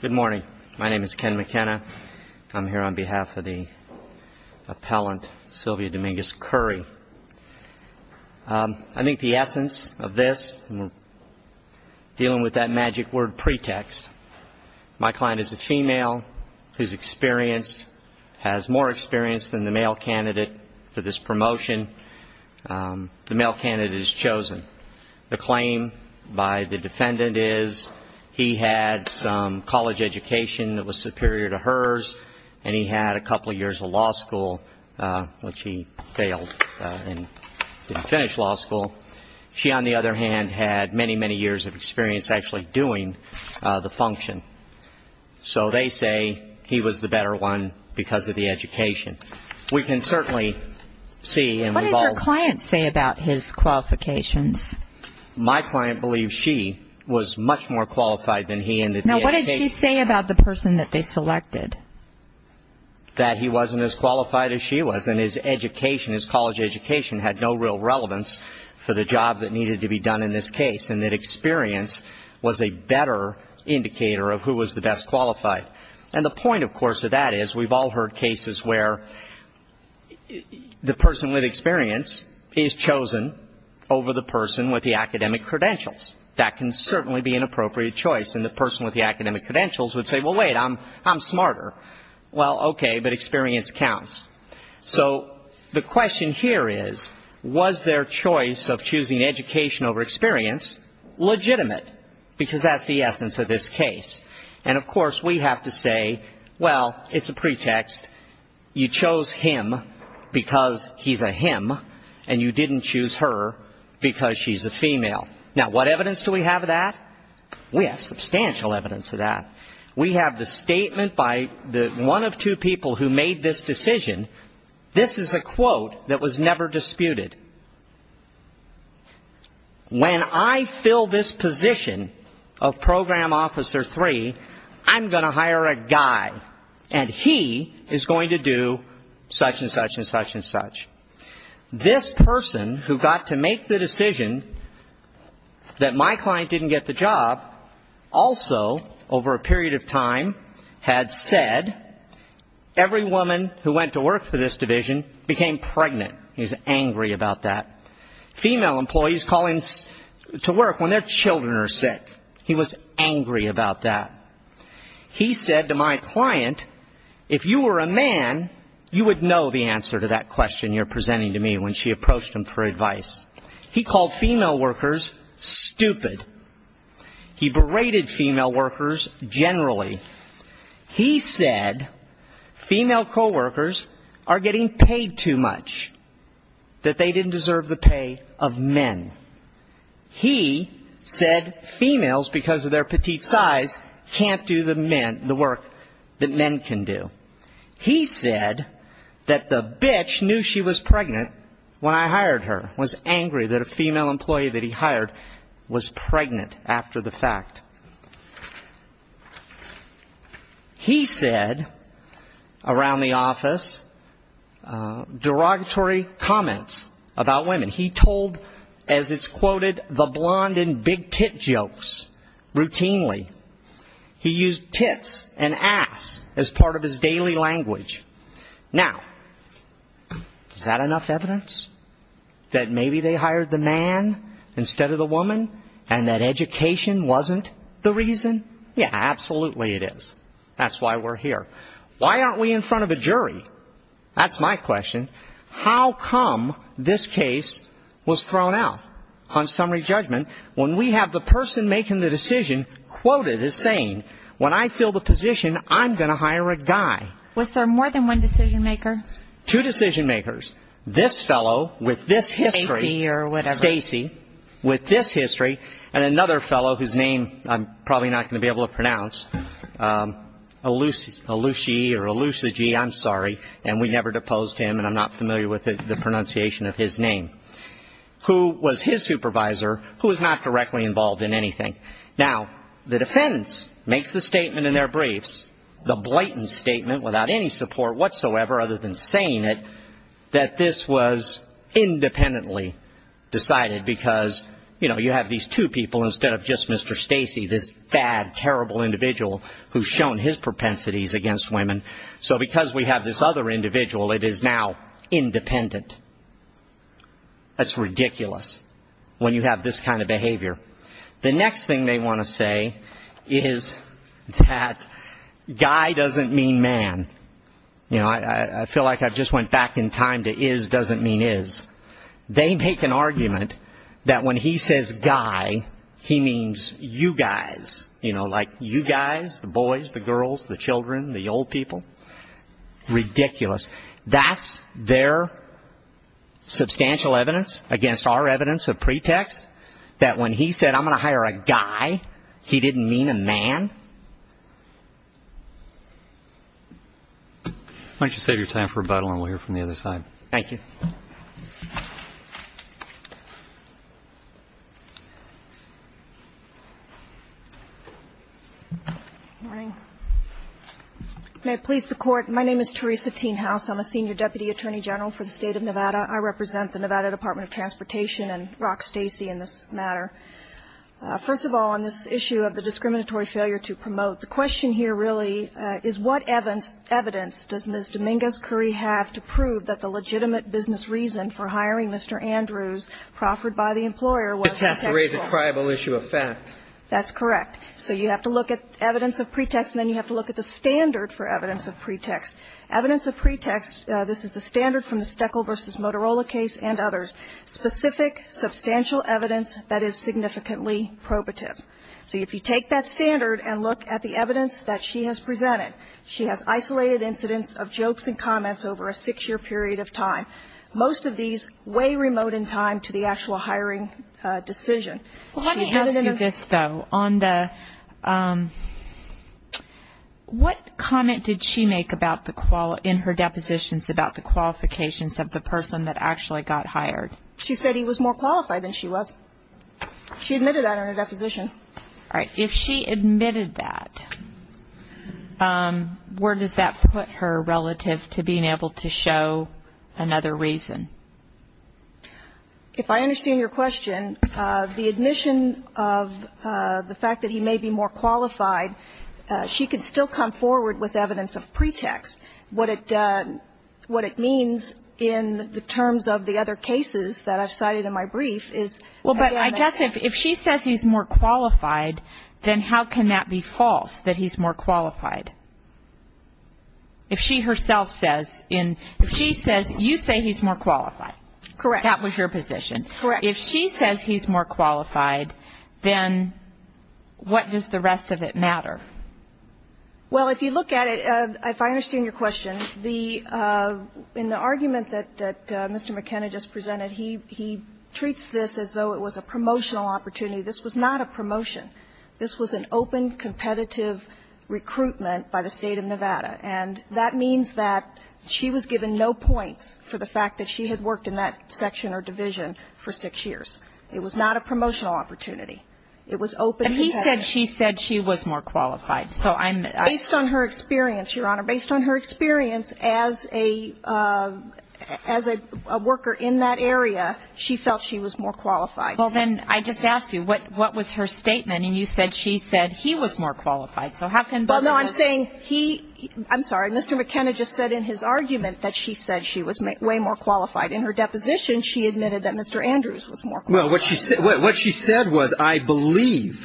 Good morning. My name is Ken McKenna. I'm here on behalf of the appellant Sylvia Dominguez-Curry I think the essence of this Dealing with that magic word pretext My client is a female who's experienced has more experience than the male candidate for this promotion The male candidate is chosen the claim by the defendant is he had some College education that was superior to hers, and he had a couple years of law school Which he failed and didn't finish law school She on the other hand had many many years of experience actually doing the function So they say he was the better one because of the education we can certainly See and what do your clients say about his qualifications? My client believes she was much more qualified than he ended now, what did he say about the person that they selected? That he wasn't as qualified as she was and his education his college education had no real relevance For the job that needed to be done in this case and that experience was a better Indicator of who was the best qualified and the point of course of that is we've all heard cases where? The person with experience is chosen Over the person with the academic credentials that can certainly be an appropriate choice and the person with the academic credentials would say well wait I'm I'm smarter well, okay, but experience counts So the question here is was their choice of choosing education over experience Legitimate because that's the essence of this case and of course we have to say well. It's a pretext You chose him Because he's a him and you didn't choose her because she's a female now. What evidence do we have of that? We have substantial evidence of that we have the statement by the one of two people who made this decision This is a quote that was never disputed When I fill this position of Program officer three I'm gonna hire a guy and he is going to do such-and-such and such-and-such This person who got to make the decision That my client didn't get the job also over a period of time had said Every woman who went to work for this division became pregnant. He's angry about that Employees calling to work when their children are sick. He was angry about that He said to my client if you were a man, you would know the answer to that question You're presenting to me when she approached him for advice. He called female workers stupid He berated female workers generally he said Female co-workers are getting paid too much That they didn't deserve the pay of men He said females because of their petite size can't do the men the work that men can do He said that the bitch knew she was pregnant When I hired her was angry that a female employee that he hired was pregnant after the fact He said around the office Derogatory comments about women he told as it's quoted the blonde and big tit jokes routinely He used tits and ass as part of his daily language now Is that enough evidence? That maybe they hired the man instead of the woman and that education wasn't the reason yeah Absolutely, it is. That's why we're here. Why aren't we in front of a jury? That's my question How come this case was thrown out on summary judgment when we have the person making the decision? Quoted as saying when I fill the position. I'm gonna hire a guy was there more than one decision maker two decision makers This fellow with this history or whatever AC with this history and another fellow whose name I'm probably not going to be able to pronounce A Lucy Lucy or a Lucy G. I'm sorry, and we never deposed him and I'm not familiar with the pronunciation of his name Who was his supervisor who is not directly involved in anything now? The defense makes the statement in their briefs the blatant statement without any support whatsoever other than saying it that this was independently Decided because you know you have these two people instead of just mr. Stacey this bad terrible individual who's shown his propensities against women. So because we have this other individual it is now independent That's ridiculous when you have this kind of behavior. The next thing they want to say is that Guy doesn't mean man You know, I feel like I've just went back in time to is doesn't mean is They make an argument that when he says guy he means you guys You know like you guys the boys the girls the children the old people Ridiculous, that's their Substantial evidence against our evidence of pretext that when he said I'm gonna hire a guy he didn't mean a man Why don't you save your time for a bottle and we'll hear from the other side, thank you Thank you May please the court. My name is Teresa teen house. I'm a senior deputy attorney general for the state of Nevada I represent the Nevada Department of Transportation and rock Stacy in this matter First of all on this issue of the discriminatory failure to promote the question here really is what Evans? Evidence does miss Dominguez curry have to prove that the legitimate business reason for hiring? Mr Andrews proffered by the employer was has to raise a tribal issue of fact. That's correct So you have to look at evidence of pretext and then you have to look at the standard for evidence of pretext Evidence of pretext. This is the standard from the Steckel versus Motorola case and others specific substantial evidence that is significantly Probative so if you take that standard and look at the evidence that she has presented She has isolated incidents of jokes and comments over a six-year period of time Most of these way remote in time to the actual hiring decision though on the What comment did she make about the qual in her depositions about the Qualifications of the person that actually got hired. She said he was more qualified than she was She admitted that on her deposition. All right, if she admitted that Where does that put her relative to being able to show another reason? If I understand your question the admission of The fact that he may be more qualified She could still come forward with evidence of pretext what it What it means in the terms of the other cases that I've cited in my brief is well But I guess if she says he's more qualified then how can that be false that he's more qualified? If she herself says in if she says you say he's more qualified Correct. That was your position, correct? If she says he's more qualified then What does the rest of it matter? well, if you look at it if I understand your question the In the argument that that mr. McKenna just presented he he treats this as though it was a promotional opportunity This was not a promotion. This was an open competitive Recruitment by the state of Nevada and that means that She was given no points for the fact that she had worked in that section or division for six years It was not a promotional opportunity. It was open. He said she said she was more qualified so I'm based on her experience your honor based on her experience as a As a worker in that area. She felt she was more qualified. Well, then I just asked you what what was her statement? And you said she said he was more qualified. So how can well, no, I'm saying he I'm sorry Mr. McKenna just said in his argument that she said she was way more qualified in her deposition. She admitted that. Mr Andrews was more. Well, what she said what she said was I believe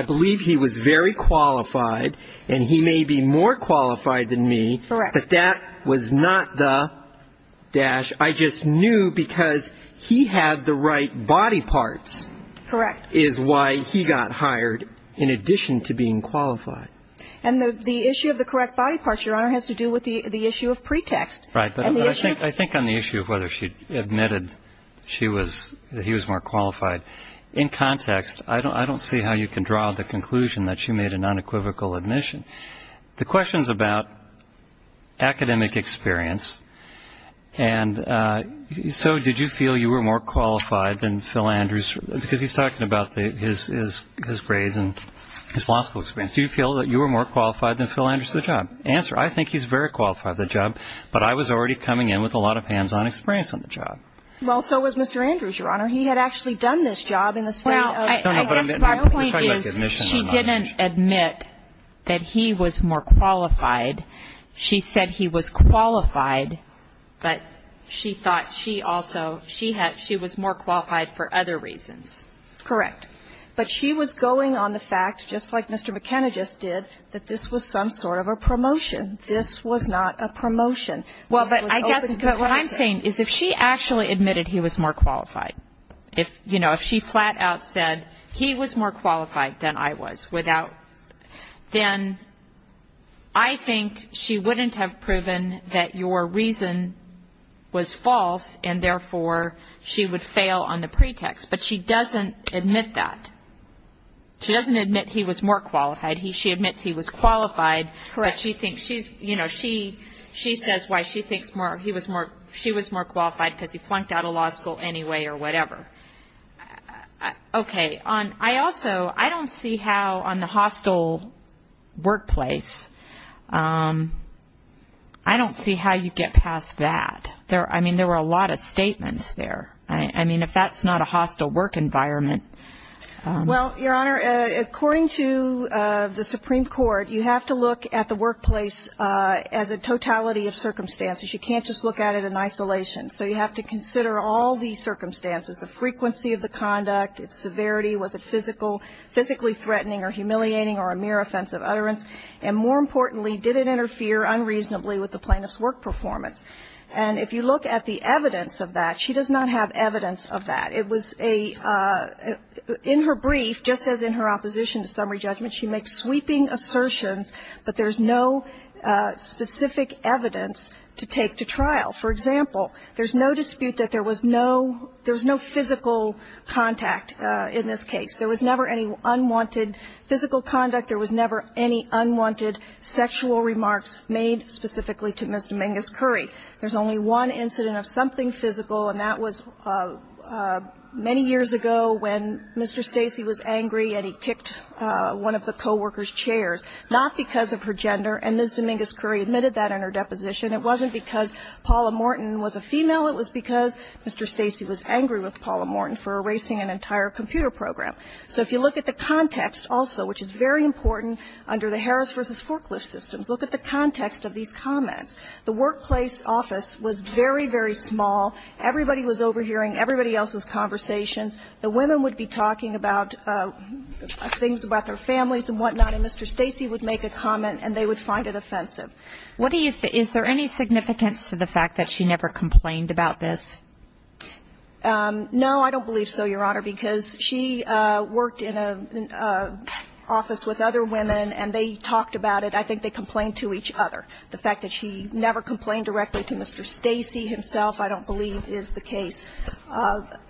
I Believe he was very qualified and he may be more qualified than me, but that was not the Dash I just knew because he had the right body parts Correct is why he got hired in addition to being qualified and the the issue of the correct body parts Your honor has to do with the the issue of pretext, right? But I think I think on the issue of whether she admitted she was he was more qualified in context I don't I don't see how you can draw the conclusion that she made an unequivocal admission the questions about academic experience and So, did you feel you were more qualified than Phil Andrews because he's talking about the his is his grades and his law school experience Do you feel that you were more qualified than Phil Andrews the job answer? I think he's very qualified the job, but I was already coming in with a lot of hands-on experience on the job Well, so was mr. Andrews your honor. He had actually done this job in the style She didn't admit that he was more qualified She said he was qualified But she thought she also she had she was more qualified for other reasons Correct, but she was going on the fact just like mr. McKenna just did that. This was some sort of a promotion This was not a promotion. Well, but I guess what I'm saying is if she actually admitted he was more qualified if you know if she flat-out said he was more qualified than I was without then I Think she wouldn't have proven that your reason Was false and therefore she would fail on the pretext, but she doesn't admit that She doesn't admit he was more qualified. He she admits he was qualified Correct. She thinks she's you know She she says why she thinks more he was more she was more qualified because he flunked out of law school anyway, or whatever Okay on I also I don't see how on the hostile workplace I Don't see how you get past that there. I mean there were a lot of statements there I mean if that's not a hostile work environment Well, your honor according to the Supreme Court. You have to look at the workplace as a totality of circumstances You can't just look at it in isolation So you have to consider all these circumstances the frequency of the conduct its severity was a physical Physically threatening or humiliating or a mere offensive utterance and more importantly did it interfere unreasonably with the plaintiff's work performance? And if you look at the evidence of that, she does not have evidence of that. It was a In her brief just as in her opposition to summary judgment. She makes sweeping assertions, but there's no Specific evidence to take to trial. For example, there's no dispute that there was no there was no physical Contact in this case. There was never any unwanted physical conduct There was never any unwanted sexual remarks made specifically to miss Dominguez-Curry. There's only one incident of something physical and that was Many years ago when mr. Stacy was angry and he kicked One of the co-workers chairs not because of her gender and miss Dominguez-Curry admitted that in her deposition It wasn't because Paula Morton was a female. It was because mr. Stacy was angry with Paula Morton For erasing an entire computer program So if you look at the context also, which is very important under the Harris versus forklift systems Look at the context of these comments. The workplace office was very very small Everybody was overhearing everybody else's conversations. The women would be talking about Things about their families and whatnot and mr. Stacy would make a comment and they would find it offensive What do you think is there any significance to the fact that she never complained about this? No, I don't believe so your honor because she worked in a Office with other women and they talked about it I think they complained to each other the fact that she never complained directly to mr. Stacy himself. I don't believe is the case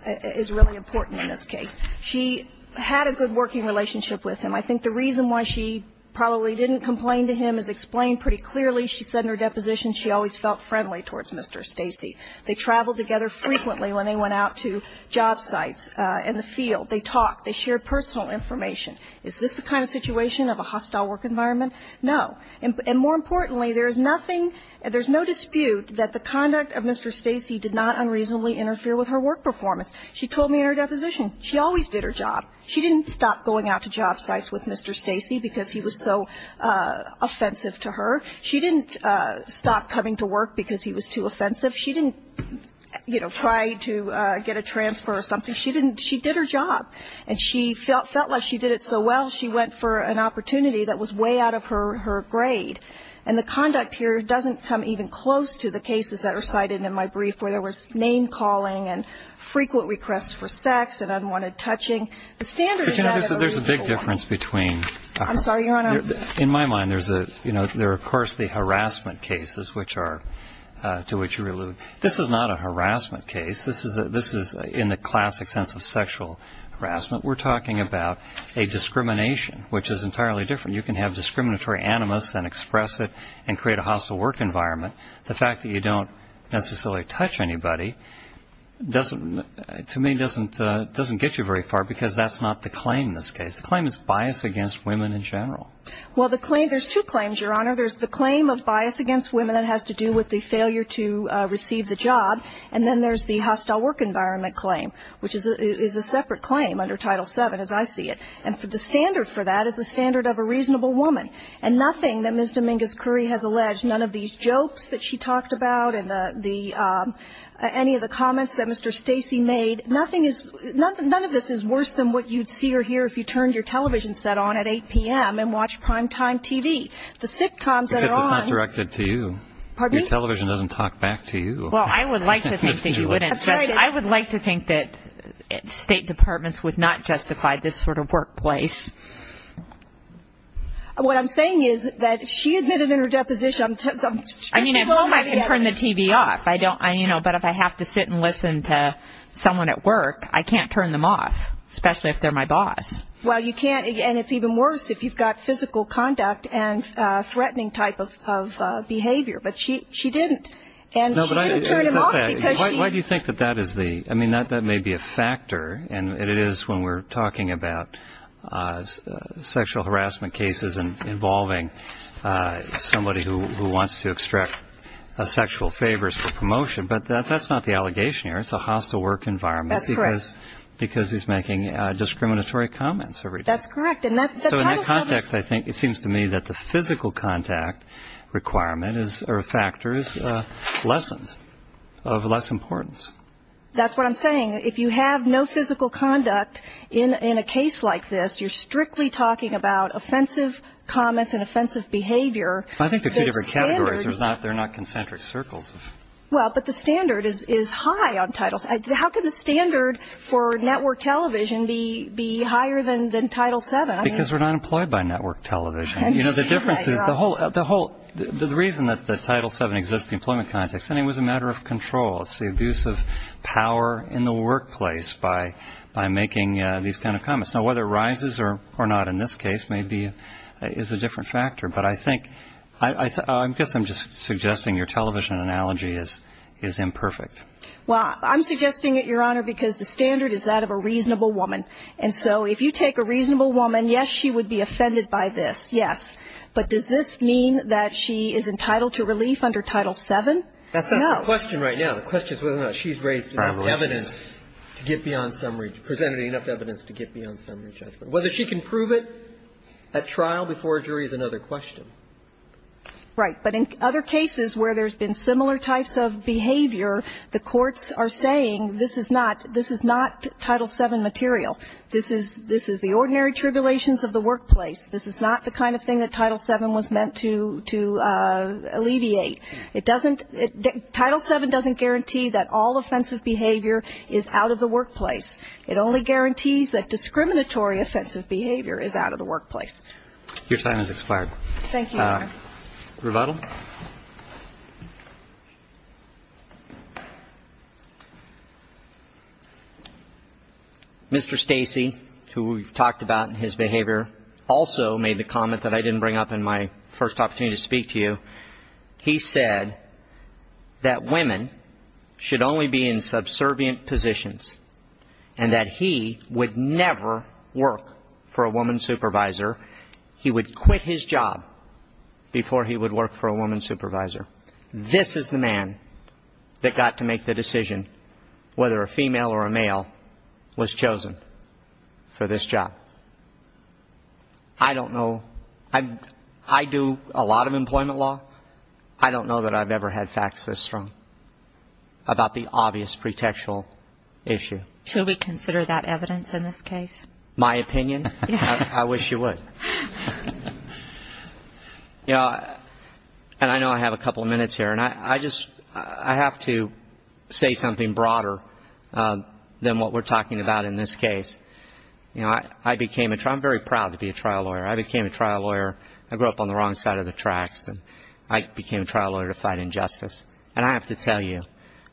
Is really important in this case. She had a good working relationship with him I think the reason why she probably didn't complain to him is explained pretty clearly. She said in her deposition She always felt friendly towards. Mr. Stacy. They traveled together frequently when they went out to job sites in the field They talked they shared personal information. Is this the kind of situation of a hostile work environment? No, and more importantly there is nothing and there's no dispute that the conduct of mr Stacy did not unreasonably interfere with her work performance. She told me in her deposition. She always did her job She didn't stop going out to job sites with mr. Stacy because he was so Offensive to her she didn't stop coming to work because he was too offensive. She didn't You know try to get a transfer or something She didn't she did her job and she felt felt like she did it So well, she went for an opportunity that was way out of her her grade and the conduct here doesn't come even close to the cases that are cited in my brief where there was name-calling and Frequent requests for sex and unwanted touching the standards. There's a big difference between I'm sorry, you know in my mind. There's a you know, there are of course the harassment cases which are To which you allude this is not a harassment case. This is this is in the classic sense of sexual harassment We're talking about a discrimination which is entirely different You can have discriminatory animus and express it and create a hostile work environment the fact that you don't necessarily touch anybody Doesn't to me doesn't doesn't get you very far because that's not the claim in this case the claim is bias against women in general Well the claim there's two claims your honor There's the claim of bias against women that has to do with the failure to receive the job and then there's the hostile work environment Claim which is a separate claim under title 7 as I see it and for the standard for that is the standard of a reasonable woman and nothing that miss Dominguez-Curry has alleged none of these jokes that she talked about and the the Any of the comments that mr Stacy made nothing is None of this is worse than what you'd see or hear if you turned your television set on at 8 p.m And watch prime-time TV the sitcoms that are directed to you Your television doesn't talk back to you. Well, I would like to think that you wouldn't I would like to think that State departments would not justify this sort of workplace What I'm saying is that she admitted in her deposition I mean, I can turn the TV off. I don't I you know, but if I have to sit and listen to someone at work I can't turn them off especially if they're my boss. Well, you can't and it's even worse if you've got physical conduct and threatening type of Behavior, but she she didn't Why do you think that that is the I mean that that may be a factor and it is when we're talking about Sexual harassment cases and involving Somebody who wants to extract Sexual favors for promotion, but that's not the allegation here. It's a hostile work environment because because he's making Discriminatory comments every that's correct. And that's so in that context. I think it seems to me that the physical contact Requirement is or a factor is Lessons of less importance. That's what I'm saying If you have no physical conduct in in a case like this, you're strictly talking about offensive comments and offensive Behavior, I think there's categories. There's not they're not concentric circles Well, but the standard is is high on titles How could the standard for network television be be higher than than title 7 because we're not employed by network television You know the difference is the whole the whole the reason that the title 7 exists the employment context and it was a matter of control It's the abuse of power in the workplace by by making these kind of comments Now whether it rises or or not in this case, maybe it is a different factor But I think I guess I'm just suggesting your television analogy is is imperfect Well, I'm suggesting it your honor because the standard is that of a reasonable woman And so if you take a reasonable woman, yes, she would be offended by this Yes, but does this mean that she is entitled to relief under title 7? That's the question right now the question is whether or not she's raised evidence To get beyond summary presented enough evidence to get beyond summary judgment whether she can prove it at trial before a jury is another question Right, but in other cases where there's been similar types of behavior The courts are saying this is not this is not title 7 material This is this is the ordinary tribulations of the workplace. This is not the kind of thing that title 7 was meant to to alleviate it doesn't Title 7 doesn't guarantee that all offensive behavior is out of the workplace It only guarantees that discriminatory offensive behavior is out of the workplace Your time is expired. Thank you rebuttal Mr. Stacy who we've talked about in his behavior also made the comment that I didn't bring up in my first opportunity to speak to you He said that women Should only be in subservient positions and that he would never work for a woman supervisor He would quit his job Before he would work for a woman supervisor. This is the man That got to make the decision whether a female or a male was chosen for this job, I Don't know that I've ever had facts this strong About the obvious pretextual issue. Should we consider that evidence in this case my opinion? I wish you would You know And I know I have a couple of minutes here and I I just I have to say something broader Than what we're talking about in this case You know, I I became a try. I'm very proud to be a trial lawyer. I became a trial lawyer I grew up on the wrong side of the tracks and I became a trial lawyer to fight injustice And I have to tell you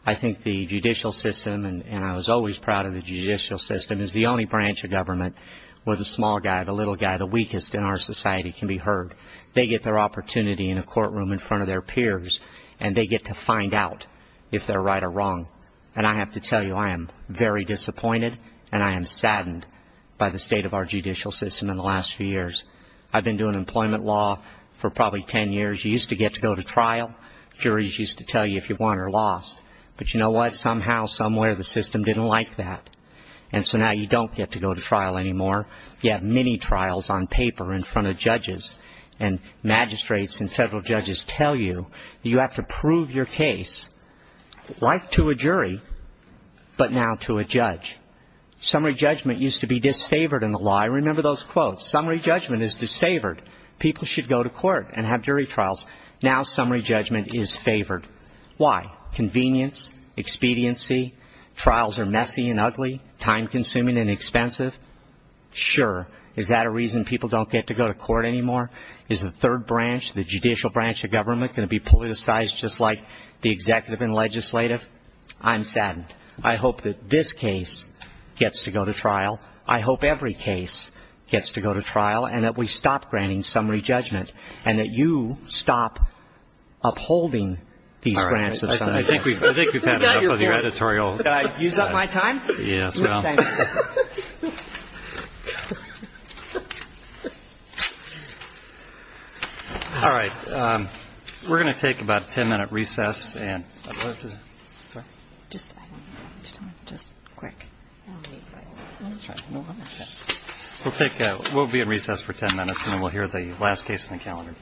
I think the judicial system and I was always proud of the judicial system is the only branch of Government was a small guy the little guy the weakest in our society can be heard They get their opportunity in a courtroom in front of their peers and they get to find out if they're right or wrong And I have to tell you I am very disappointed and I am saddened by the state of our judicial system in the last few years I've been doing employment law for probably 10 years You used to get to go to trial Juries used to tell you if you won or lost But you know what somehow somewhere the system didn't like that and so now you don't get to go to trial anymore you have many trials on paper in front of judges and Magistrates and federal judges tell you you have to prove your case right to a jury but now to a judge Summary judgment used to be disfavored in the lie Remember those quotes summary judgment is disfavored people should go to court and have jury trials now summary judgment is favored Why convenience? Expediency trials are messy and ugly time-consuming and expensive Sure, is that a reason people don't get to go to court anymore? Is the third branch the judicial branch of government going to be politicized just like the executive and legislative? I'm saddened. I hope that this case gets to go to trial I hope every case gets to go to trial and that we stop granting summary judgment and that you stop Upholding these grants. I think we've got your editorial All right, we're gonna take about a 10-minute recess and Just quick We'll take we'll be at recess for 10 minutes and then we'll hear the last case in the calendar